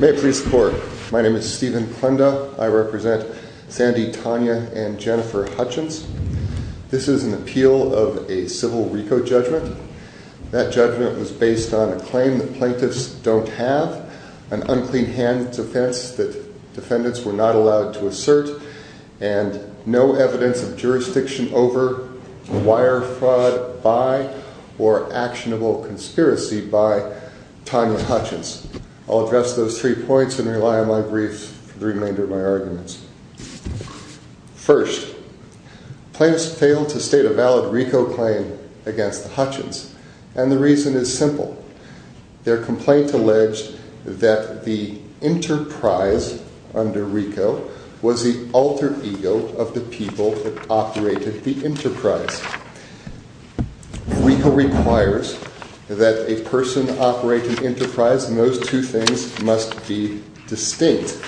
May it please the Court, my name is Stephen Klenda, I represent Sandy, Tanya and Jennifer Hutchens. This is an appeal of a civil RICO judgment. That judgment was based on a claim the plaintiffs don't have, an unclean hands offense that defendants were not allowed to assert, and no evidence of jurisdiction over wire fraud by or actionable conspiracy by Tanya Hutchens. I'll address those three points and rely on my briefs for the remainder of my arguments. First, plaintiffs failed to state a valid RICO claim against the Hutchens, and the reason is simple. Their complaint alleged that the enterprise under RICO was the alter ego of the people that operated the enterprise. RICO requires that a person operate an enterprise, and those two things must be distinct.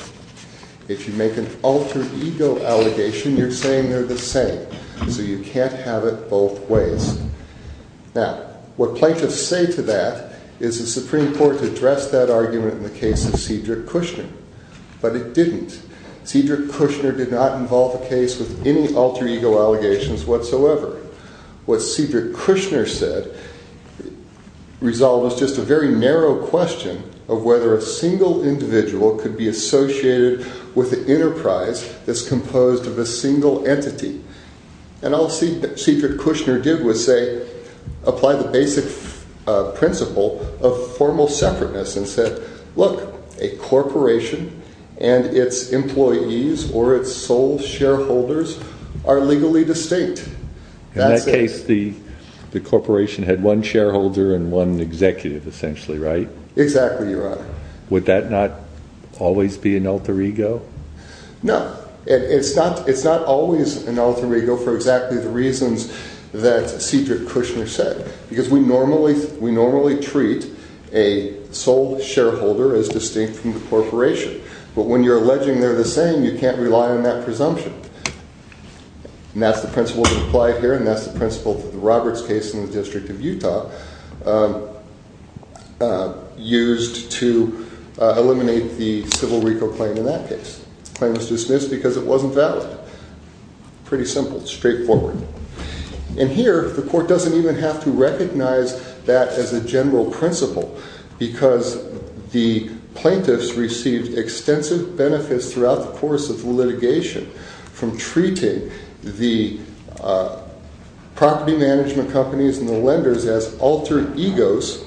If you make an alter ego allegation, you're saying they're the same, so you can't have it both ways. Now, what plaintiffs say to that is it's pretty important to address that argument in the case of Cedric Kushner, but it didn't. Cedric Kushner did not involve a case with any alter ego allegations whatsoever. What Cedric Kushner said resolves just a very narrow question of whether a single individual could be associated with an enterprise that's composed of a single entity, and all Cedric Kushner did was say, apply the basic principle of formal separateness and said, look, a corporation and its employees or its sole shareholders are legally distinct. In that case, the corporation had one shareholder and one executive, essentially, right? Exactly, Your Honor. Would that not always be an alter ego? No. It's not always an alter ego for exactly the reasons that Cedric Kushner said, because we normally treat a sole shareholder as distinct from the corporation, but when you're alleging they're the same, you can't rely on that presumption, and that's the principle that's applied here, and that's the principle that the Roberts case in the District of Utah used to eliminate the civil reco claim in that case, the claim was dismissed because it wasn't valid. Pretty simple, straightforward. And here, the court doesn't even have to recognize that as a general principle, because the plaintiffs received extensive benefits throughout the course of the litigation from treating the property management companies and the lenders as altered egos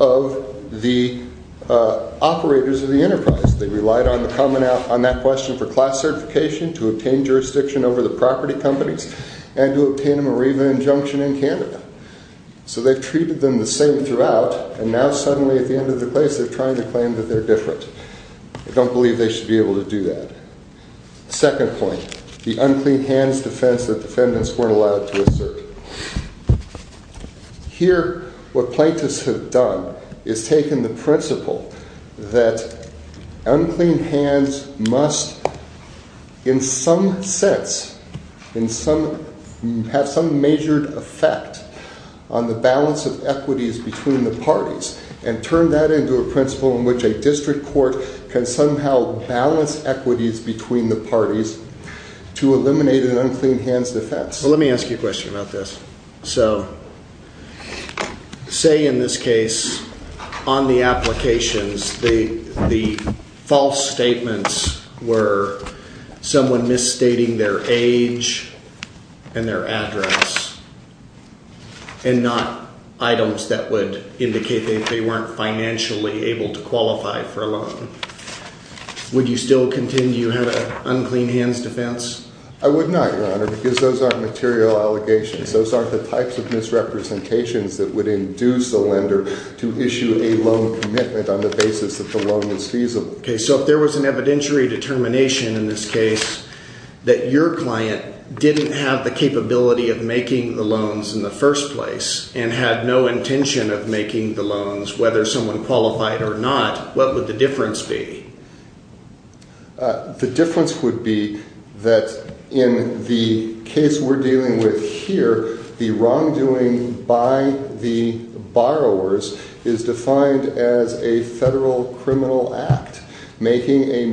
of the operators of the enterprise. They relied on that question for class certification to obtain jurisdiction over the property management companies and to obtain a Mareeva injunction in Canada. So they treated them the same throughout, and now suddenly at the end of the case, they're trying to claim that they're different. I don't believe they should be able to do that. Second point, the unclean hands defense that defendants weren't allowed to assert. Here what plaintiffs have done is taken the principle that unclean hands must in some sense have some majored effect on the balance of equities between the parties and turned that into a principle in which a district court can somehow balance equities between the parties to eliminate an unclean hands defense. Let me ask you a question about this. So say in this case, on the applications, the false statements were someone misstating their age and their address and not items that would indicate that they weren't financially able to qualify for a loan. Would you still continue to have an unclean hands defense? I would not, Your Honor, because those aren't material allegations. Those aren't the types of misrepresentations that would induce the lender to issue a loan commitment on the basis that the loan is feasible. Okay, so if there was an evidentiary determination in this case that your client didn't have the capability of making the loans in the first place and had no intention of making the loans, whether someone qualified or not, what would the difference be? The difference would be that in the case we're dealing with here, the wrongdoing by the borrowers is defined as a federal criminal act, making a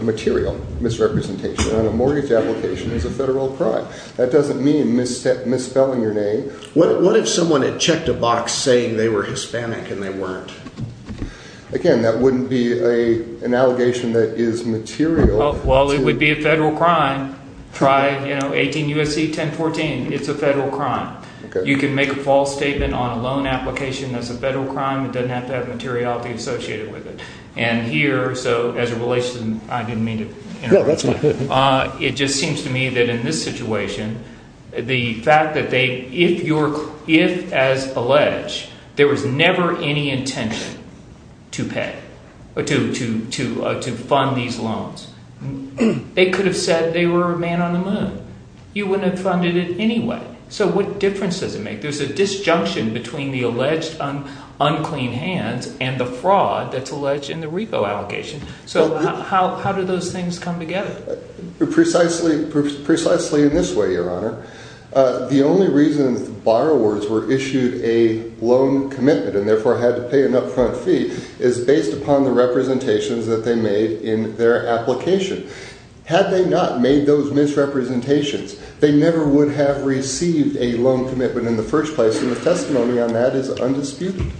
material misrepresentation on a mortgage application as a federal crime. That doesn't mean misspelling your name. What if someone had checked a box saying they were Hispanic and they weren't? Again, that wouldn't be an allegation that is material. Well, it would be a federal crime. Try 18 U.S.C. 1014. It's a federal crime. You can make a false statement on a loan application that's a federal crime. It doesn't have to have materiality associated with it. And here, so as a relation, I didn't mean to interrupt. It just seems to me that in this situation, the fact that they, if as alleged, there was never any intention to pay or to fund these loans, they could have said they were a man on the moon. You wouldn't have funded it anyway. So what difference does it make? There's a disjunction between the alleged unclean hands and the fraud that's alleged in the repo allocation. So how do those things come together? Precisely in this way, Your Honor. The only reason borrowers were issued a loan commitment and therefore had to pay an upfront fee is based upon the representations that they made in their application. Had they not made those misrepresentations, they never would have received a loan commitment in the first place. And the testimony on that is undisputed.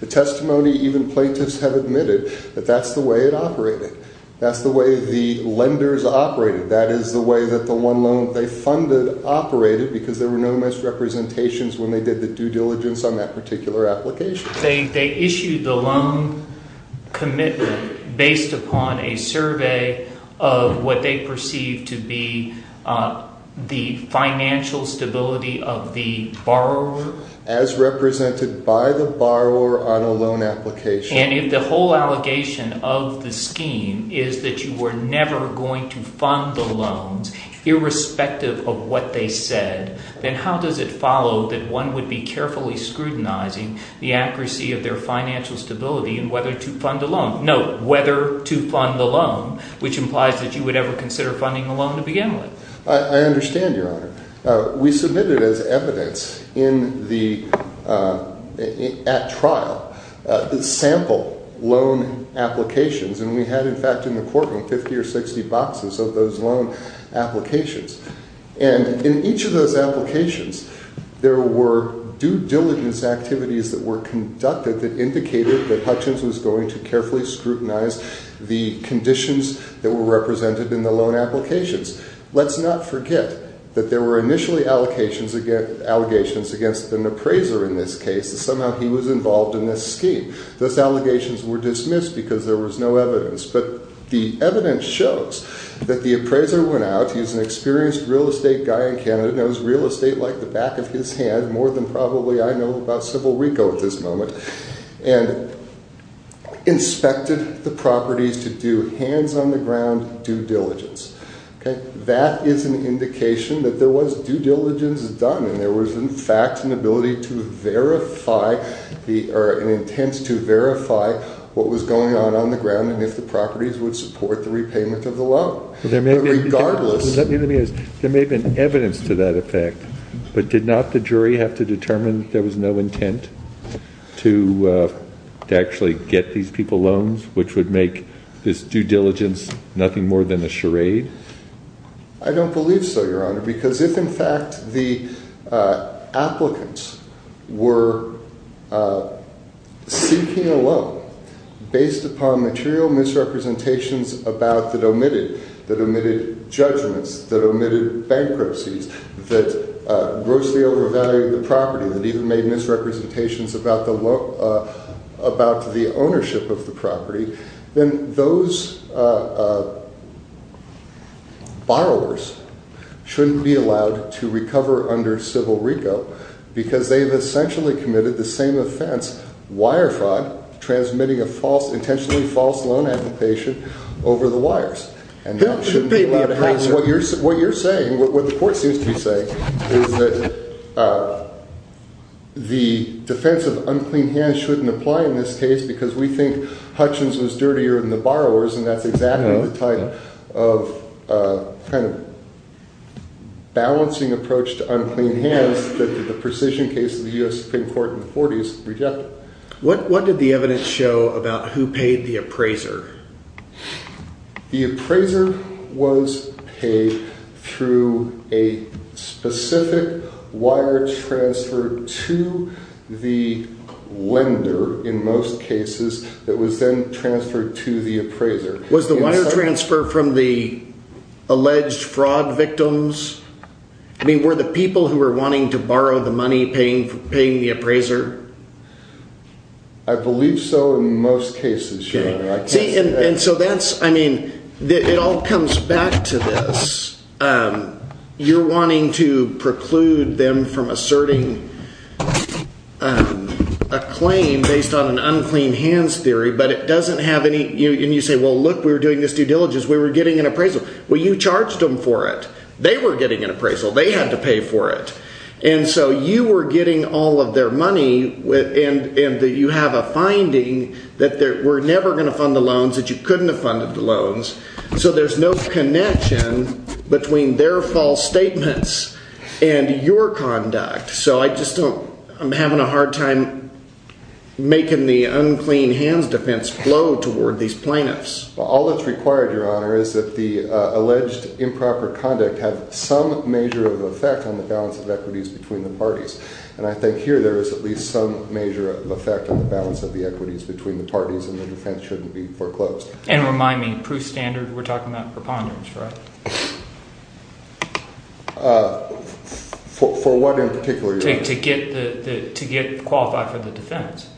The testimony even plaintiffs have admitted that that's the way it operated. That's the way the lenders operated. That is the way that the one loan they funded operated because there were no misrepresentations when they did the due diligence on that particular application. They issued the loan commitment based upon a survey of what they perceived to be the financial stability of the borrower. As represented by the borrower on a loan application. And if the whole allegation of the scheme is that you were never going to fund the loans irrespective of what they said, then how does it follow that one would be carefully scrutinizing the accuracy of their financial stability in whether to fund a loan? No, whether to fund the loan, which implies that you would ever consider funding a loan to begin with. I understand, Your Honor. We submitted as evidence in the, at trial, the sample loan applications, and we had in fact in the courtroom 50 or 60 boxes of those loan applications. And in each of those applications, there were due diligence activities that were conducted that indicated that Hutchins was going to carefully scrutinize the conditions that were represented in the loan applications. Let's not forget that there were initially allegations against an appraiser in this case. Somehow he was involved in this scheme. Those allegations were dismissed because there was no evidence. But the evidence shows that the appraiser went out, he's an experienced real estate guy in Canada, knows real estate like the back of his hand, more than probably I know about Civil Reco at this moment, and inspected the properties to do hands on the ground due diligence. Okay. That is an indication that there was due diligence done and there was in fact an ability to verify the, or an intent to verify what was going on on the ground and if the properties would support the repayment of the loan. Regardless. Let me ask, there may have been evidence to that effect, but did not the jury have to determine that there was no intent to actually get these people loans, which would make this due diligence nothing more than a charade? I don't believe so, Your Honor, because if in fact the applicants were seeking a loan based upon material misrepresentations about that omitted, that omitted judgments, that omitted bankruptcies, that grossly overvalued the property, that even made misrepresentations about the ownership of the property, then those borrowers shouldn't be allowed to recover under Civil Reco because they have essentially committed the same offense, wire fraud, transmitting a false, intentionally false loan application over the wires. And that shouldn't be allowed. What you're saying, what the court seems to be saying, is that the defense of unclean hands shouldn't apply in this case because we think Hutchins was dirtier than the borrowers and that's exactly the type of kind of balancing approach to unclean hands that the precision case of the U.S. Supreme Court in the 40s rejected. What did the evidence show about who paid the appraiser? The appraiser was paid through a specific wire transfer to the lender, in most cases, that was then transferred to the appraiser. Was the wire transfer from the alleged fraud victims? I mean, were the people who were wanting to borrow the money paying the appraiser? See, and so that's, I mean, it all comes back to this. You're wanting to preclude them from asserting a claim based on an unclean hands theory, but it doesn't have any, and you say, well look, we were doing this due diligence, we were getting an appraisal. Well, you charged them for it. They were getting an appraisal. They had to pay for it. And so you were getting all of their money and you have a finding that we're never going to fund the loans, that you couldn't have funded the loans. So there's no connection between their false statements and your conduct. So I just don't, I'm having a hard time making the unclean hands defense flow toward these plaintiffs. All that's required, your honor, is that the alleged improper conduct have some measure of effect on the balance of equities between the parties. And I think here there is at least some measure of effect on the balance of the equities between the parties and the defense shouldn't be foreclosed. And remind me, proof standard, we're talking about preponderance, right? For what in particular, your honor? To get qualified for the defense.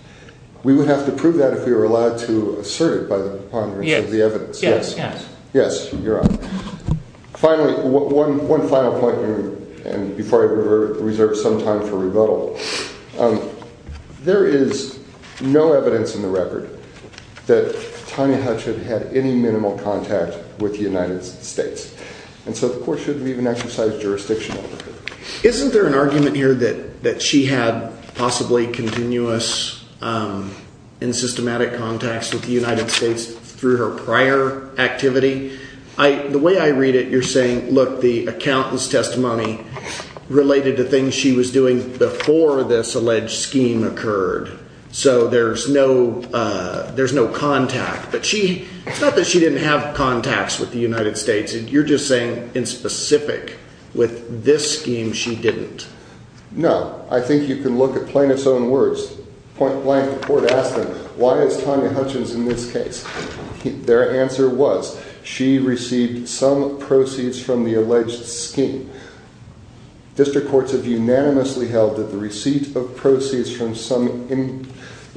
We would have to prove that if we were allowed to assert it by the preponderance of the evidence. Yes, yes. Yes, your honor. Finally, one final point here, and before I reserve some time for rebuttal, there is no evidence in the record that Tanya Hutch had had any minimal contact with the United States. And so the court shouldn't even exercise jurisdiction over her. Isn't there an argument here that she had possibly continuous and systematic contacts with the United States through her prior activity? The way I read it, you're saying, look, the accountant's testimony related to things she was doing before this alleged scheme occurred. So there's no, uh, there's no contact, but she, it's not that she didn't have contacts with the United States. And you're just saying in specific with this scheme, she didn't. No, I think you can look at plaintiff's own words, point blank, the court asked them, why is Tanya Hutchins in this case? Their answer was she received some proceeds from the alleged scheme. District courts have unanimously held that the receipt of proceeds from some, you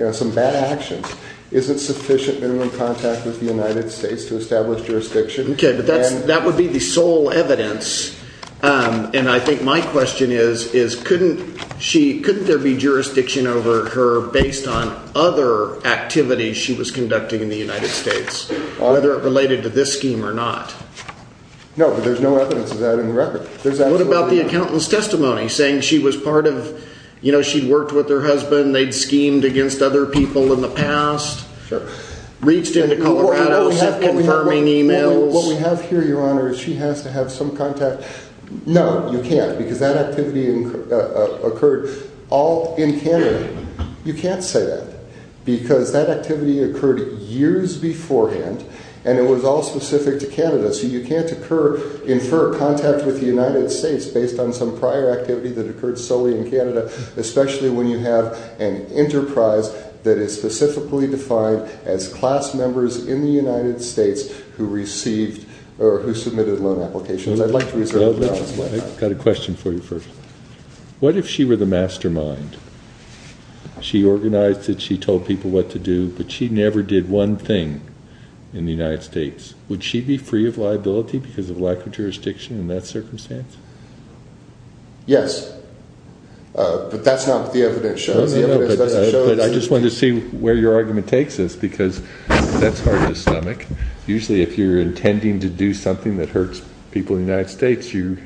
know, some bad actions isn't sufficient minimum contact with the United States to establish jurisdiction. Okay. But that's, that would be the sole evidence. And I think my question is, is couldn't she, couldn't there be jurisdiction over her based on other activities she was conducting in the United States, whether it related to this scheme or not? No, but there's no evidence of that in the record. What about the accountant's testimony saying she was part of, you know, she'd worked with their husband, they'd schemed against other people in the past, reached into Colorado, sent confirming emails. What we have here, your honor, is she has to have some contact. No, you can't because that activity occurred all in Canada. You can't say that because that activity occurred years beforehand and it was all specific to the United States based on some prior activity that occurred solely in Canada, especially when you have an enterprise that is specifically defined as class members in the United States who received or who submitted loan applications. I'd like to reserve the right to ask questions. I've got a question for you first. What if she were the mastermind? She organized it, she told people what to do, but she never did one thing in the United States. Would she be free of liability because of lack of jurisdiction in that circumstance? Yes. But that's not what the evidence shows. I just wanted to see where your argument takes us because that's hard to stomach. Usually if you're intending to do something that hurts people in the United States, you're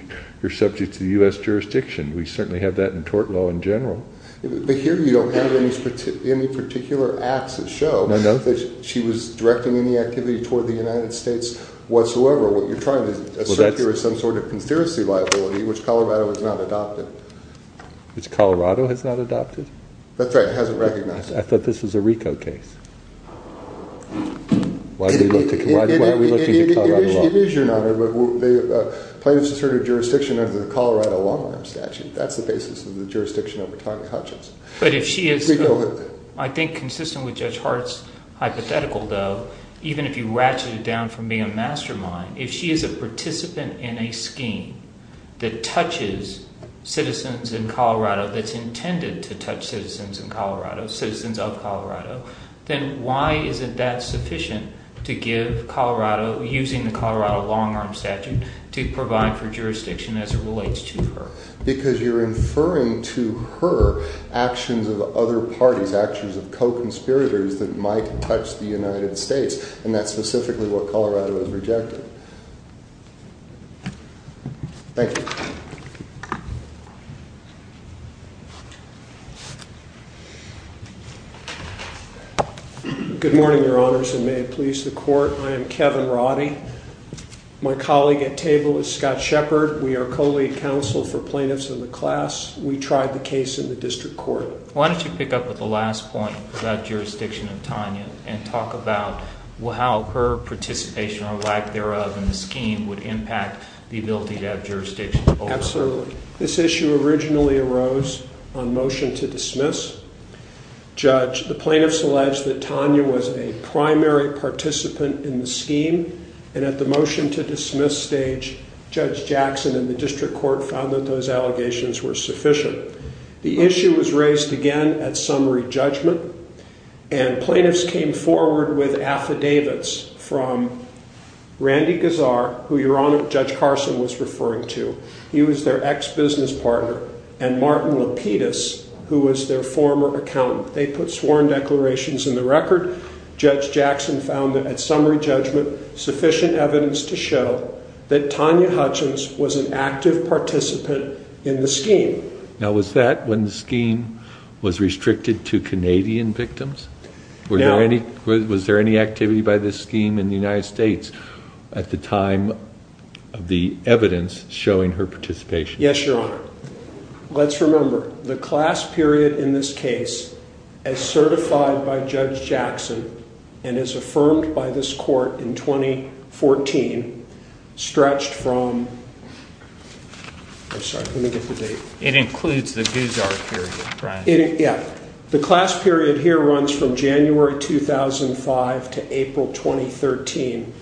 subject to the U.S. jurisdiction. We certainly have that in tort law in general. But here you don't have any particular acts that show that she was directing any activity toward the United States whatsoever. What you're trying to assert here is some sort of conspiracy liability, which Colorado has not adopted. Which Colorado has not adopted? That's right. It hasn't recognized that. I thought this was a RICO case. Why are we looking to Colorado law? It is, Your Honor. But plaintiffs asserted jurisdiction under the Colorado Long-Rime Statute. That's the basis of the jurisdiction over Tonya Hutchins. But if she is, I think, consistent with Judge Hart's hypothetical, though, even if you ratchet it down from being a mastermind, if she is a participant in a scheme that touches citizens in Colorado, that's intended to touch citizens of Colorado, then why isn't that sufficient to give Colorado, using the Colorado Long-Rime Statute, to provide for jurisdiction as it relates to her? Because you're inferring to her actions of other parties, actions of co-conspirators that might touch the United States, and that's specifically what Colorado has rejected. Thank you. Good morning, Your Honors, and may it please the Court. I am Kevin Roddy. My colleague at table is Scott Shepard. We are co-lead counsel for plaintiffs in the class. We tried the case in the district court. Why don't you pick up with the last point about jurisdiction? and talk about how her participation or lack thereof in the scheme would impact the ability to have jurisdiction. Absolutely. This issue originally arose on motion to dismiss. Judge, the plaintiffs alleged that Tonya was a primary participant in the scheme, and at the motion to dismiss stage, Judge Jackson and the district court found that those allegations were sufficient. The issue was raised again at summary judgment, and plaintiffs came forward with affidavits from Randy Gazar, who Your Honor, Judge Carson was referring to. He was their ex-business partner, and Martin Lapidus, who was their former accountant. They put sworn declarations in the record. Judge Jackson found that at summary judgment, sufficient evidence to show that Tonya Hutchins was an active participant in the scheme. Now, was that when the scheme was restricted to Canadian victims? No. Was there any activity by this scheme in the United States at the time of the evidence showing her participation? Yes, Your Honor. Let's remember, the class period in this case as certified by Judge Jackson and as affirmed by this court in 2014 stretched from, I'm sorry, let me get the date. It includes the Gazar period, right? Yeah. The class period here runs from January 2005 to April 2013.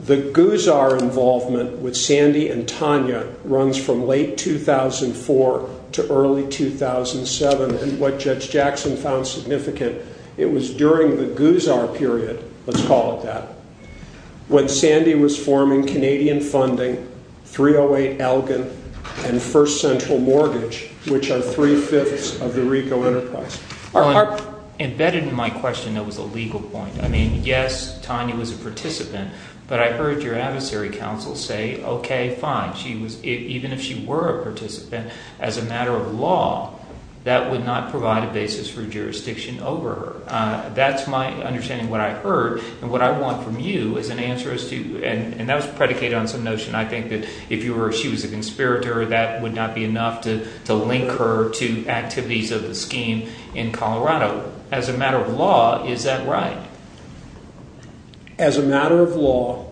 The Gazar involvement with Sandy and Tonya runs from late 2004 to early 2007, and what let's call it that, when Sandy was forming Canadian funding, 308 Elgin, and First Central Mortgage, which are three-fifths of the RICO enterprise. Embedded in my question, there was a legal point. I mean, yes, Tonya was a participant, but I heard your adversary counsel say, okay, fine. Even if she were a participant, as a matter of law, that would not provide a basis for jurisdiction over her. That's my understanding of what I heard, and what I want from you is an answer as to, and that was predicated on some notion I think that if she was a conspirator, that would not be enough to link her to activities of the scheme in Colorado. As a matter of law, is that right? As a matter of law,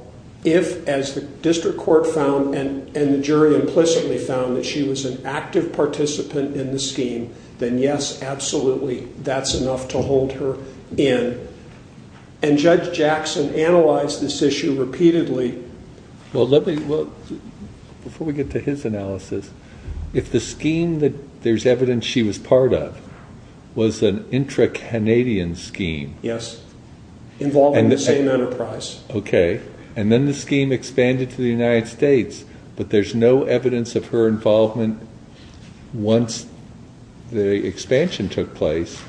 if, as the district court found and the jury implicitly found that she was an active participant in the scheme, then yes, absolutely, that's enough to hold her in. And Judge Jackson analyzed this issue repeatedly. Well, let me, before we get to his analysis, if the scheme that there's evidence she was part of was an intra-Canadian scheme. Yes. Involving the same enterprise. Okay. And then the scheme expanded to the United States, but there's no evidence of her involvement once the expansion took place.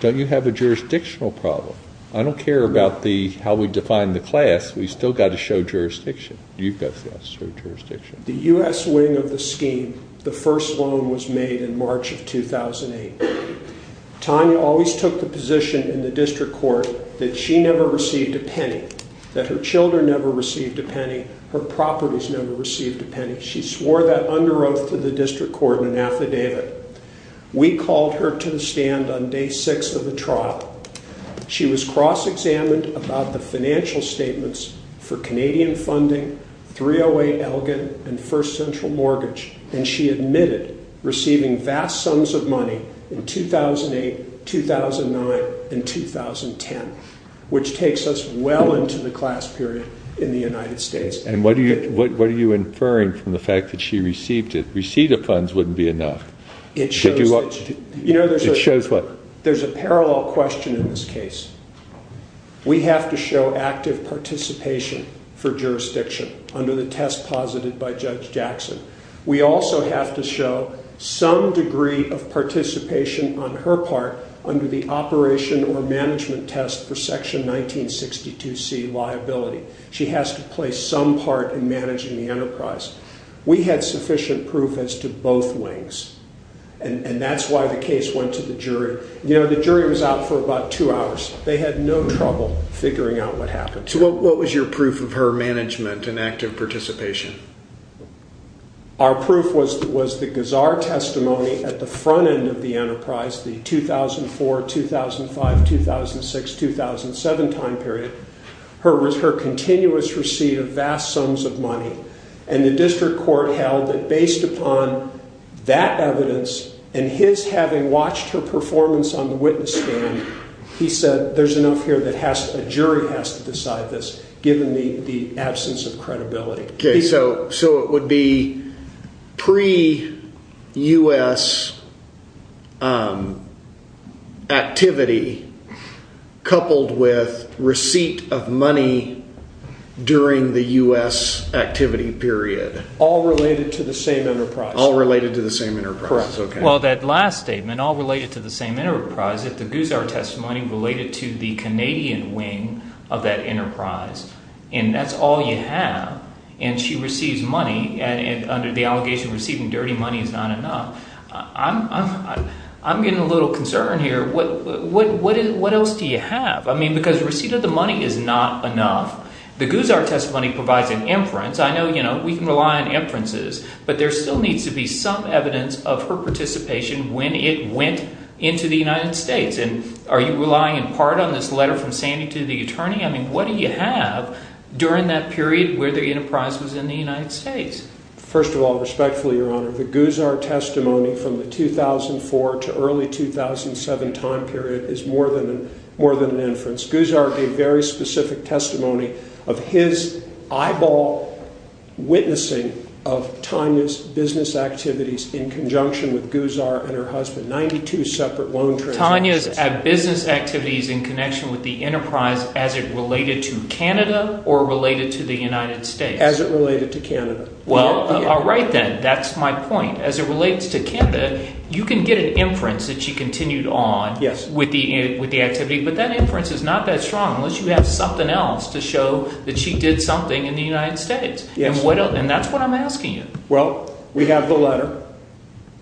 Don't you have a jurisdictional problem? I don't care about the, how we define the class, we've still got to show jurisdiction. You've got to show jurisdiction. The U.S. wing of the scheme, the first loan was made in March of 2008. Tanya always took the position in the district court that she never received a penny, that her children never received a penny, her properties never received a penny. She swore that under oath to the district court in an affidavit. We called her to the stand on day six of the trial. She was cross-examined about the financial statements for Canadian funding, 308 Elgin, and first central mortgage, and she admitted receiving vast sums of money in 2008, 2009, and 2010, which takes us well into the class period in the United States. And what are you inferring from the fact that she received it? Receipt of funds wouldn't be enough. It shows that, you know, there's a parallel question in this case. We have to show active participation for jurisdiction under the test posited by Judge Jackson. We also have to show some degree of participation on her part under the operation or management test for Section 1962C liability. She has to play some part in managing the enterprise. We had sufficient proof as to both wings, and that's why the case went to the jury. You know, the jury was out for about two hours. They had no trouble figuring out what happened. So what was your proof of her management and active participation? Our proof was the gazar testimony at the front end of the enterprise, the 2004, 2005, 2006, 2007 time period, her continuous receipt of vast sums of money. And the district court held that based upon that evidence and his having watched her performance on the witness stand, he said there's enough here that a jury has to decide this, given the absence of credibility. Okay, so it would be pre-U.S. activity coupled with receipt of money during the U.S. activity period. All related to the same enterprise. All related to the same enterprise, okay. Well, that last statement, all related to the same enterprise, if the gazar testimony related to the Canadian wing of that enterprise, and that's all you have, and she receives money under the allegation of receiving dirty money is not enough, I'm getting a little concerned here. What else do you have? I mean because receipt of the money is not enough. The gazar testimony provides an inference. I know, you know, we can rely on inferences, but there still needs to be some evidence of her participation when it went into the United States. And are you relying in part on this letter from Sandy to the attorney? I mean what do you have during that period where the enterprise was in the United States? First of all, respectfully, Your Honor, the gazar testimony from the 2004 to early 2007 time period is more than an inference. Gazar gave very specific testimony of his eyeball witnessing of Tanya's business activities in conjunction with gazar and her husband, 92 separate loan transactions. Tanya's business activities in connection with the enterprise as it related to Canada or related to the United States? As it related to Canada. Well, all right then, that's my point. As it relates to Canada, you can get an inference that she continued on with the activity, but that inference is not that strong unless you have something else to show that she did something in the United States. And that's what I'm asking you. Well, we have the letter,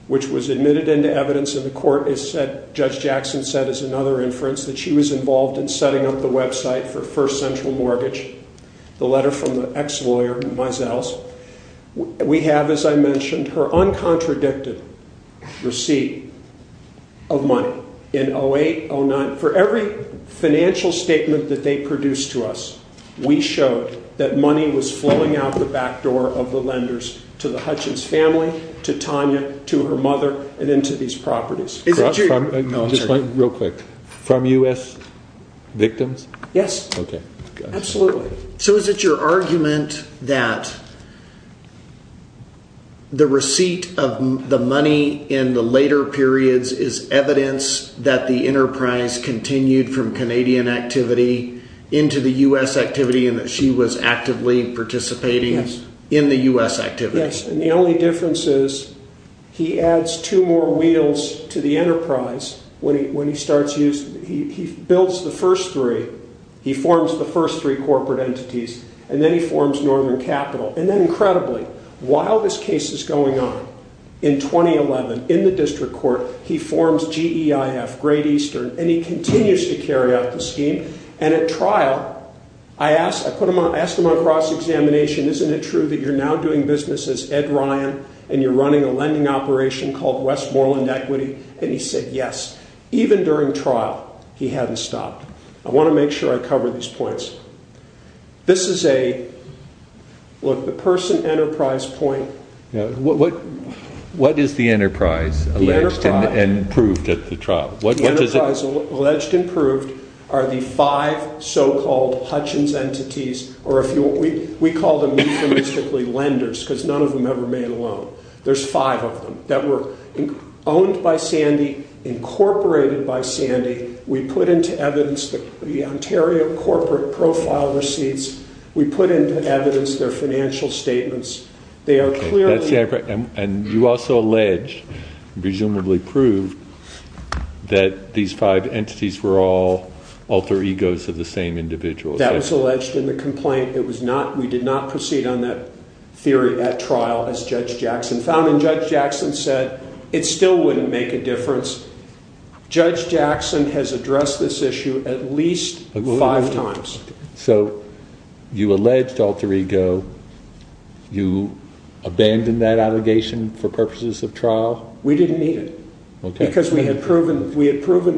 which was admitted into evidence in the court, as Judge Jackson said is another inference, that she was involved in setting up the website for First Central Mortgage, the letter from the ex-lawyer, Meisels. We have, as I mentioned, her uncontradicted receipt of money in 2008, 2009. For every financial statement that they produced to us, we showed that money was flowing out the back door of the lenders to the Hutchins family, to Tanya, to her mother, and into these properties. Real quick, from U.S. victims? Yes, absolutely. So is it your argument that the receipt of the money in the later periods is evidence that the enterprise continued from Canadian activity into the U.S. activity and that she was actively participating in the U.S. activity? Yes, and the only difference is he adds two more wheels to the enterprise when he starts using it. He builds the first three, he forms the first three corporate entities, and then he forms Northern Capital. And then incredibly, while this case is going on, in 2011, in the district court, he forms GEIF, Great Eastern, and he continues to carry out the scheme. And at trial, I asked him on cross-examination, isn't it true that you're now doing business as Ed Ryan and you're running a lending operation called Westmoreland Equity? And he said yes. Even during trial, he hadn't stopped. I want to make sure I cover these points. This is a, look, the person enterprise point. What is the enterprise alleged and proved at the trial? The enterprise alleged and proved are the five so-called Hutchins entities, or we call them euphemistically lenders because none of them ever made a loan. There's five of them that were owned by Sandy, incorporated by Sandy. We put into evidence the Ontario corporate profile receipts. We put into evidence their financial statements. They are clearly. And you also alleged, presumably proved, that these five entities were all alter egos of the same individual. That was alleged in the complaint. It was not, we did not proceed on that theory at trial as Judge Jackson found. And Judge Jackson said it still wouldn't make a difference. Judge Jackson has addressed this issue at least five times. So you alleged alter ego. You abandoned that allegation for purposes of trial. We didn't need it because we had proven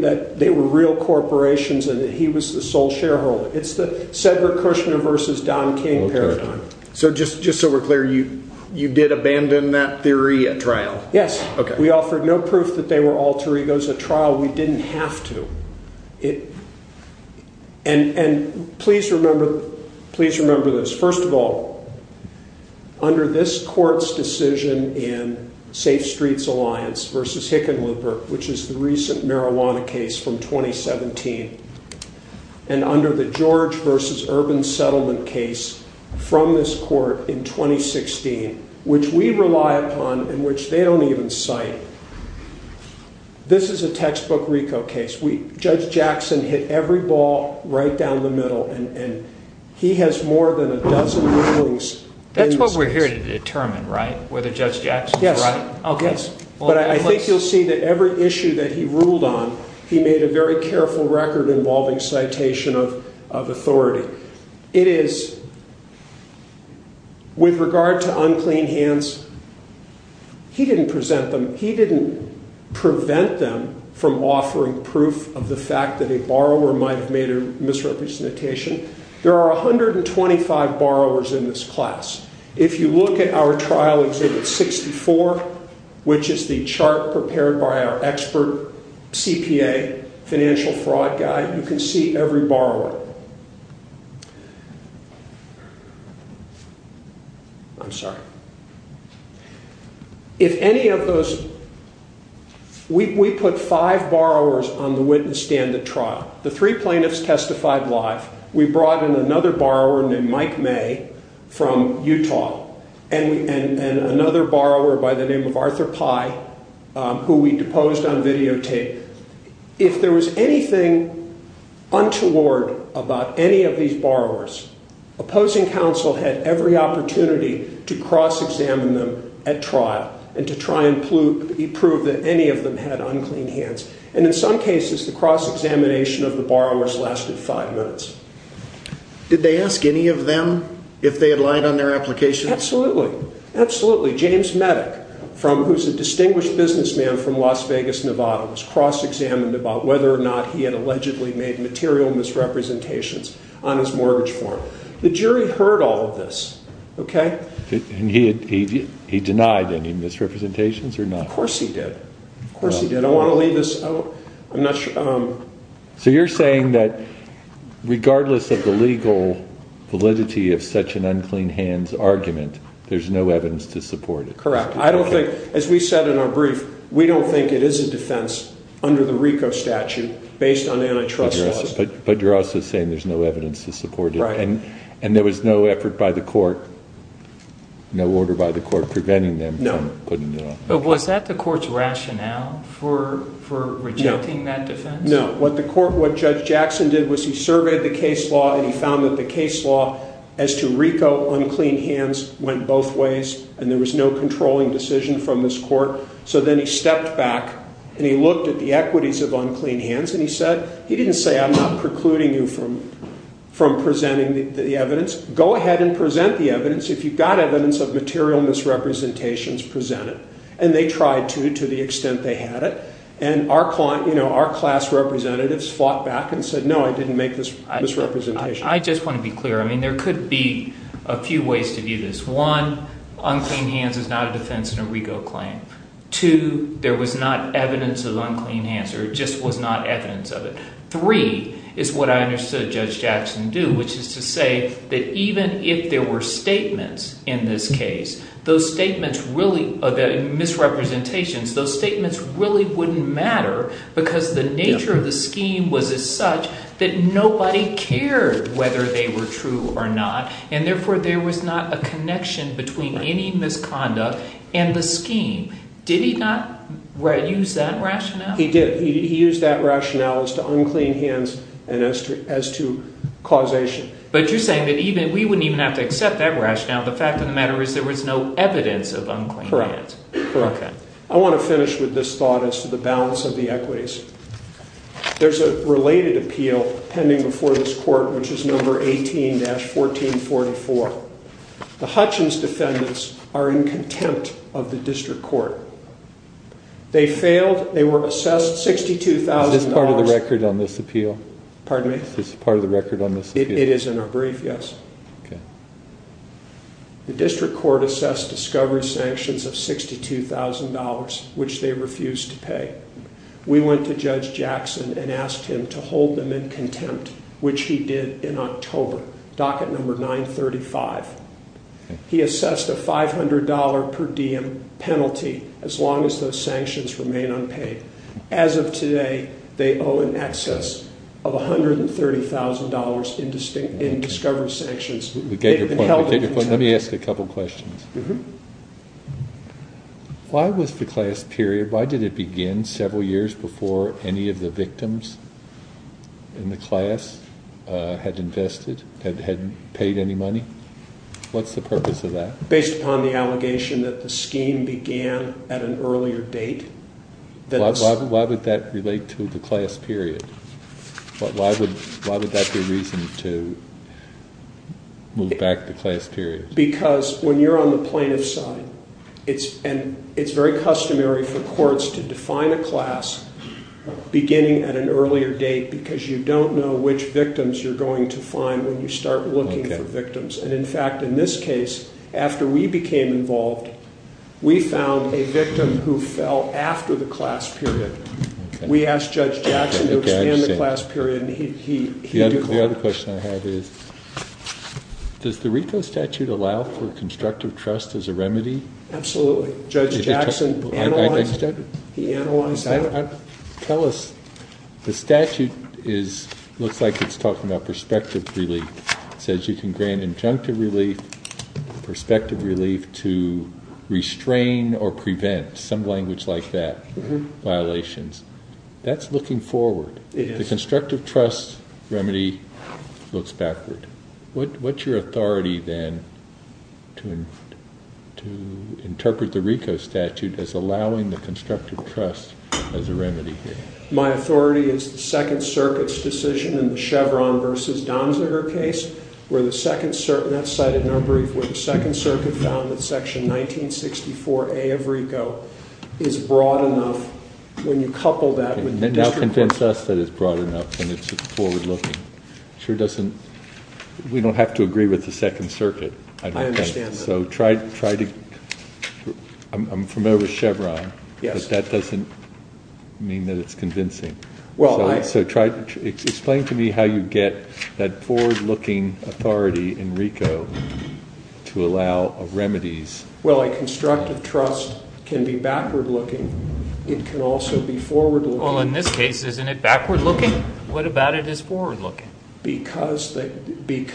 that they were real corporations and that he was the sole shareholder. It's the Cedric Kushner versus Don King paradigm. So just so we're clear, you did abandon that theory at trial? Yes. We offered no proof that they were alter egos at trial. We didn't have to. And please remember this. First of all, under this court's decision in Safe Streets Alliance versus Hickenlooper, which is the recent marijuana case from 2017, and under the George versus Urban Settlement case from this court in 2016, which we rely upon and which they don't even cite, this is a textbook RICO case. Judge Jackson hit every ball right down the middle, and he has more than a dozen rulings. That's what we're here to determine, right, whether Judge Jackson's right? Yes. But I think you'll see that every issue that he ruled on, he made a very careful record involving citation of authority. It is with regard to unclean hands, he didn't present them. He didn't prevent them from offering proof of the fact that a borrower might have made a misrepresentation. There are 125 borrowers in this class. If you look at our trial exhibit 64, which is the chart prepared by our expert CPA, financial fraud guy, you can see every borrower. I'm sorry. If any of those, we put five borrowers on the witness stand at trial. The three plaintiffs testified live. We brought in another borrower named Mike May from Utah and another borrower by the name of Arthur Pye, who we deposed on videotape. If there was anything untoward about any of these borrowers, opposing counsel had every opportunity to cross-examine them at trial and to try and prove that any of them had unclean hands. And in some cases, the cross-examination of the borrowers lasted five minutes. Did they ask any of them if they had lied on their application? Absolutely. Absolutely. James Medic, who's a distinguished businessman from Las Vegas, Nevada, was cross-examined about whether or not he had allegedly made material misrepresentations on his mortgage form. The jury heard all of this, okay? And he denied any misrepresentations or not? Of course he did. Of course he did. I want to leave this out. I'm not sure. So you're saying that regardless of the legal validity of such an unclean hands argument, there's no evidence to support it? Correct. I don't think, as we said in our brief, we don't think it is a defense under the RICO statute based on antitrust laws. But you're also saying there's no evidence to support it? Right. And there was no effort by the court, no order by the court, preventing them from putting it on? No. But was that the court's rationale for rejecting that defense? No. What Judge Jackson did was he surveyed the case law and he found that the case law as to RICO unclean hands went both ways and there was no controlling decision from this court. So then he stepped back and he looked at the equities of unclean hands and he said he didn't say I'm not precluding you from presenting the evidence. Go ahead and present the evidence if you've got evidence of material misrepresentations presented. And they tried to, to the extent they had it. And our class representatives fought back and said, no, I didn't make this misrepresentation. I just want to be clear. I mean there could be a few ways to view this. One, unclean hands is not a defense in a RICO claim. Two, there was not evidence of unclean hands or it just was not evidence of it. Three is what I understood Judge Jackson do, which is to say that even if there were statements in this case, those statements really, misrepresentations, those statements really wouldn't matter because the nature of the scheme was as such that nobody cared whether they were true or not and therefore there was not a connection between any misconduct and the scheme. Did he not use that rationale? He did. He used that rationale as to unclean hands and as to causation. But you're saying that we wouldn't even have to accept that rationale. The fact of the matter is there was no evidence of unclean hands. Correct. I want to finish with this thought as to the balance of the equities. There's a related appeal pending before this court, which is number 18-1444. The Hutchins defendants are in contempt of the district court. They failed. They were assessed $62,000. Is this part of the record on this appeal? Pardon me? Is this part of the record on this appeal? It is in our brief, yes. The district court assessed discovery sanctions of $62,000, which they refused to pay. We went to Judge Jackson and asked him to hold them in contempt, which he did in October, docket number 935. He assessed a $500 per diem penalty as long as those sanctions remain unpaid. As of today, they owe in excess of $130,000 in discovery sanctions. Let me ask a couple questions. Why was the class period, why did it begin several years before any of the victims in the class had invested, had paid any money? What's the purpose of that? Based upon the allegation that the scheme began at an earlier date. Why would that relate to the class period? Why would that be a reason to move back the class period? Because when you're on the plaintiff's side, it's very customary for courts to define a class beginning at an earlier date because you don't know which victims you're going to find when you start looking for victims. And in fact, in this case, after we became involved, we found a victim who fell after the class period. We asked Judge Jackson to expand the class period, and he did not. The other question I have is, does the RICO statute allow for constructive trust as a remedy? Absolutely. Judge Jackson analyzed it. Tell us, the statute looks like it's talking about prospective relief. It says you can grant injunctive relief, prospective relief to restrain or prevent, some language like that, violations. That's looking forward. The constructive trust remedy looks backward. What's your authority, then, to interpret the RICO statute as allowing the constructive trust as a remedy here? My authority is the Second Circuit's decision in the Chevron v. Donziger case. That's cited in our brief where the Second Circuit found that section 1964A of RICO is broad enough when you couple that with the district court. It reminds us that it's broad enough, and it's forward-looking. It sure doesn't. We don't have to agree with the Second Circuit, I don't think. I understand that. So try to... I'm familiar with Chevron. Yes. But that doesn't mean that it's convincing. Well, I... So try... Explain to me how you get that forward-looking authority in RICO to allow remedies. Well, a constructive trust can be backward-looking. It can also be forward-looking. Well, in this case, isn't it backward-looking? What about it is forward-looking? Because the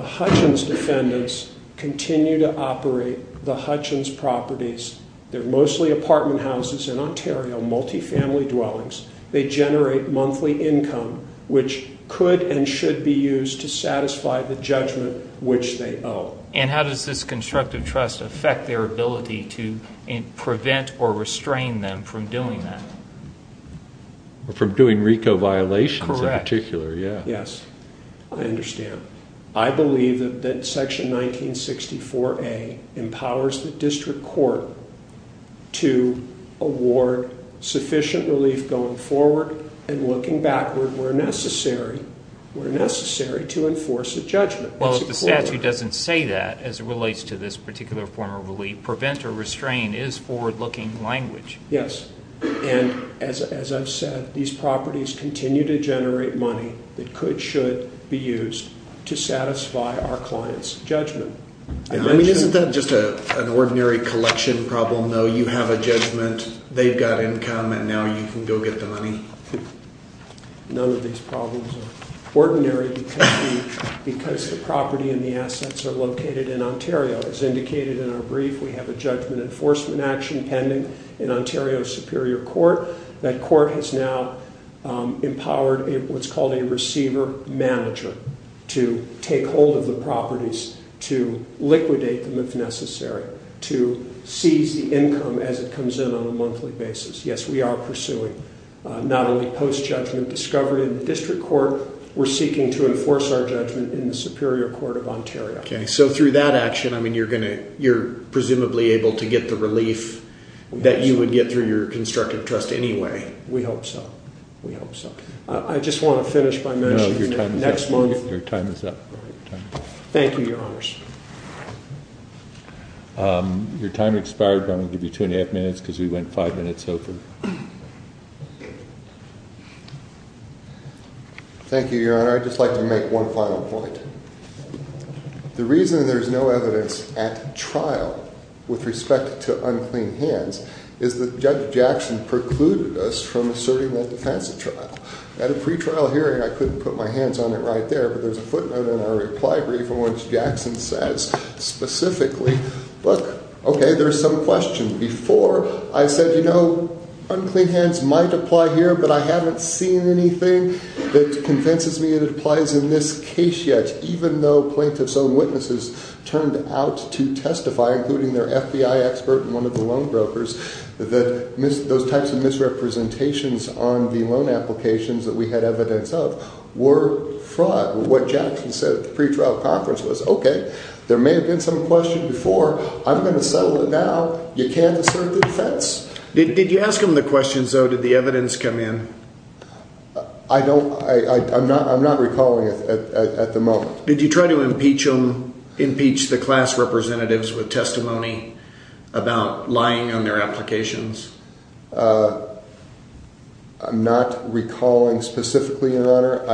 Hutchins defendants continue to operate the Hutchins properties. They're mostly apartment houses in Ontario, multifamily dwellings. They generate monthly income, which could and should be used to satisfy the judgment which they owe. And how does this constructive trust affect their ability to prevent or restrain them from doing that? From doing RICO violations in particular. Correct. Yes. I understand. I believe that Section 1964A empowers the district court to award sufficient relief going forward and looking backward where necessary to enforce a judgment. Well, if the statute doesn't say that as it relates to this particular form of relief, prevent or restrain is forward-looking language. Yes. And as I've said, these properties continue to generate money that could, should be used to satisfy our client's judgment. I mean, isn't that just an ordinary collection problem, though? You have a judgment, they've got income, and now you can go get the money? None of these problems are ordinary because the property and the assets are located in Ontario. As indicated in our brief, we have a judgment enforcement action pending in Ontario Superior Court. That court has now empowered what's called a receiver-manager to take hold of the properties, to liquidate them if necessary, to seize the income as it comes in on a monthly basis. Yes, we are pursuing not only post-judgment discovery in the district court, we're seeking to enforce our judgment in the Superior Court of Ontario. Okay. So through that action, I mean, you're going to, you're presumably able to get the relief that you would get through your constructive trust anyway. We hope so. We hope so. I just want to finish by mentioning that next month... No, your time is up. Your time is up. Thank you, Your Honors. Your time expired, but I'm going to give you two and a half minutes because we went five minutes over. Thank you, Your Honor. I'd just like to make one final point. The reason there's no evidence at trial with respect to unclean hands is that Judge Jackson precluded us from asserting that defense at trial. At a pretrial hearing, I couldn't put my hands on it right there, but there's a footnote in our reply brief in which Jackson says specifically, look, okay, there's some question. Before, I said, you know, unclean hands might apply here, but I haven't seen anything that convinces me it applies in this case yet, even though plaintiffs' own witnesses turned out to testify, including their FBI expert and one of the loan brokers, that those types of misrepresentations on the loan applications that we had evidence of were fraud. What Jackson said at the pretrial conference was, okay, there may have been some question before. I'm going to settle it now. You can't assert the defense. Did you ask him the questions, though? Did the evidence come in? I don't. I'm not recalling it at the moment. Did you try to impeach the class representatives with testimony about lying on their applications? I'm not recalling specifically, Your Honor.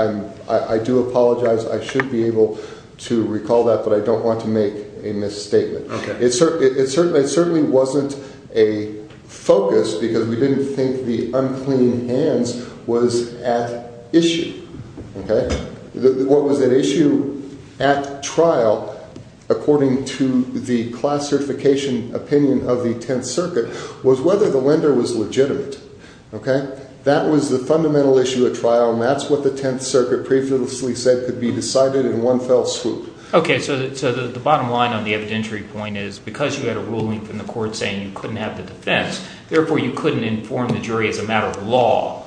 I do apologize. I should be able to recall that, but I don't want to make a misstatement. It certainly wasn't a focus because we didn't think the unclean hands was at issue. What was at issue at trial, according to the class certification opinion of the Tenth Circuit, was whether the lender was legitimate. That was the fundamental issue at trial, and that's what the Tenth Circuit previously said could be decided in one fell swoop. Okay, so the bottom line on the evidentiary point is because you had a ruling from the court saying you couldn't have the defense, therefore you couldn't inform the jury as a matter of law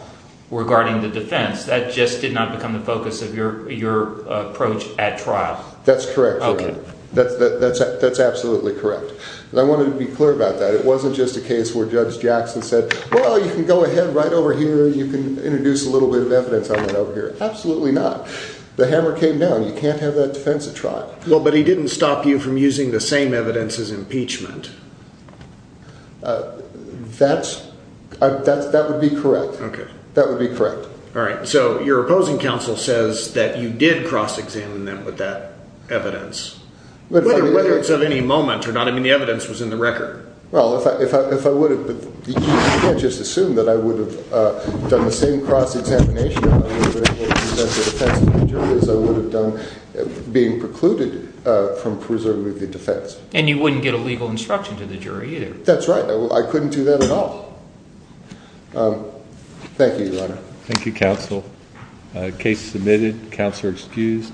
regarding the defense. That just did not become the focus of your approach at trial. That's correct, Your Honor. Okay. That's absolutely correct. I wanted to be clear about that. It wasn't just a case where Judge Jackson said, Well, you can go ahead right over here and you can introduce a little bit of evidence on that over here. Absolutely not. The hammer came down. You can't have that defense at trial. But he didn't stop you from using the same evidence as impeachment. That would be correct. Okay. That would be correct. All right. So your opposing counsel says that you did cross-examine them with that evidence, whether it's of any moment or not. I mean, the evidence was in the record. Well, if I would have, you can't just assume that I would have done the same cross-examination as I would have done being precluded from preserving the defense. And you wouldn't get a legal instruction to the jury either. That's right. I couldn't do that at all. Thank you, Your Honor. Thank you, Counsel. Case submitted. Counselor excused.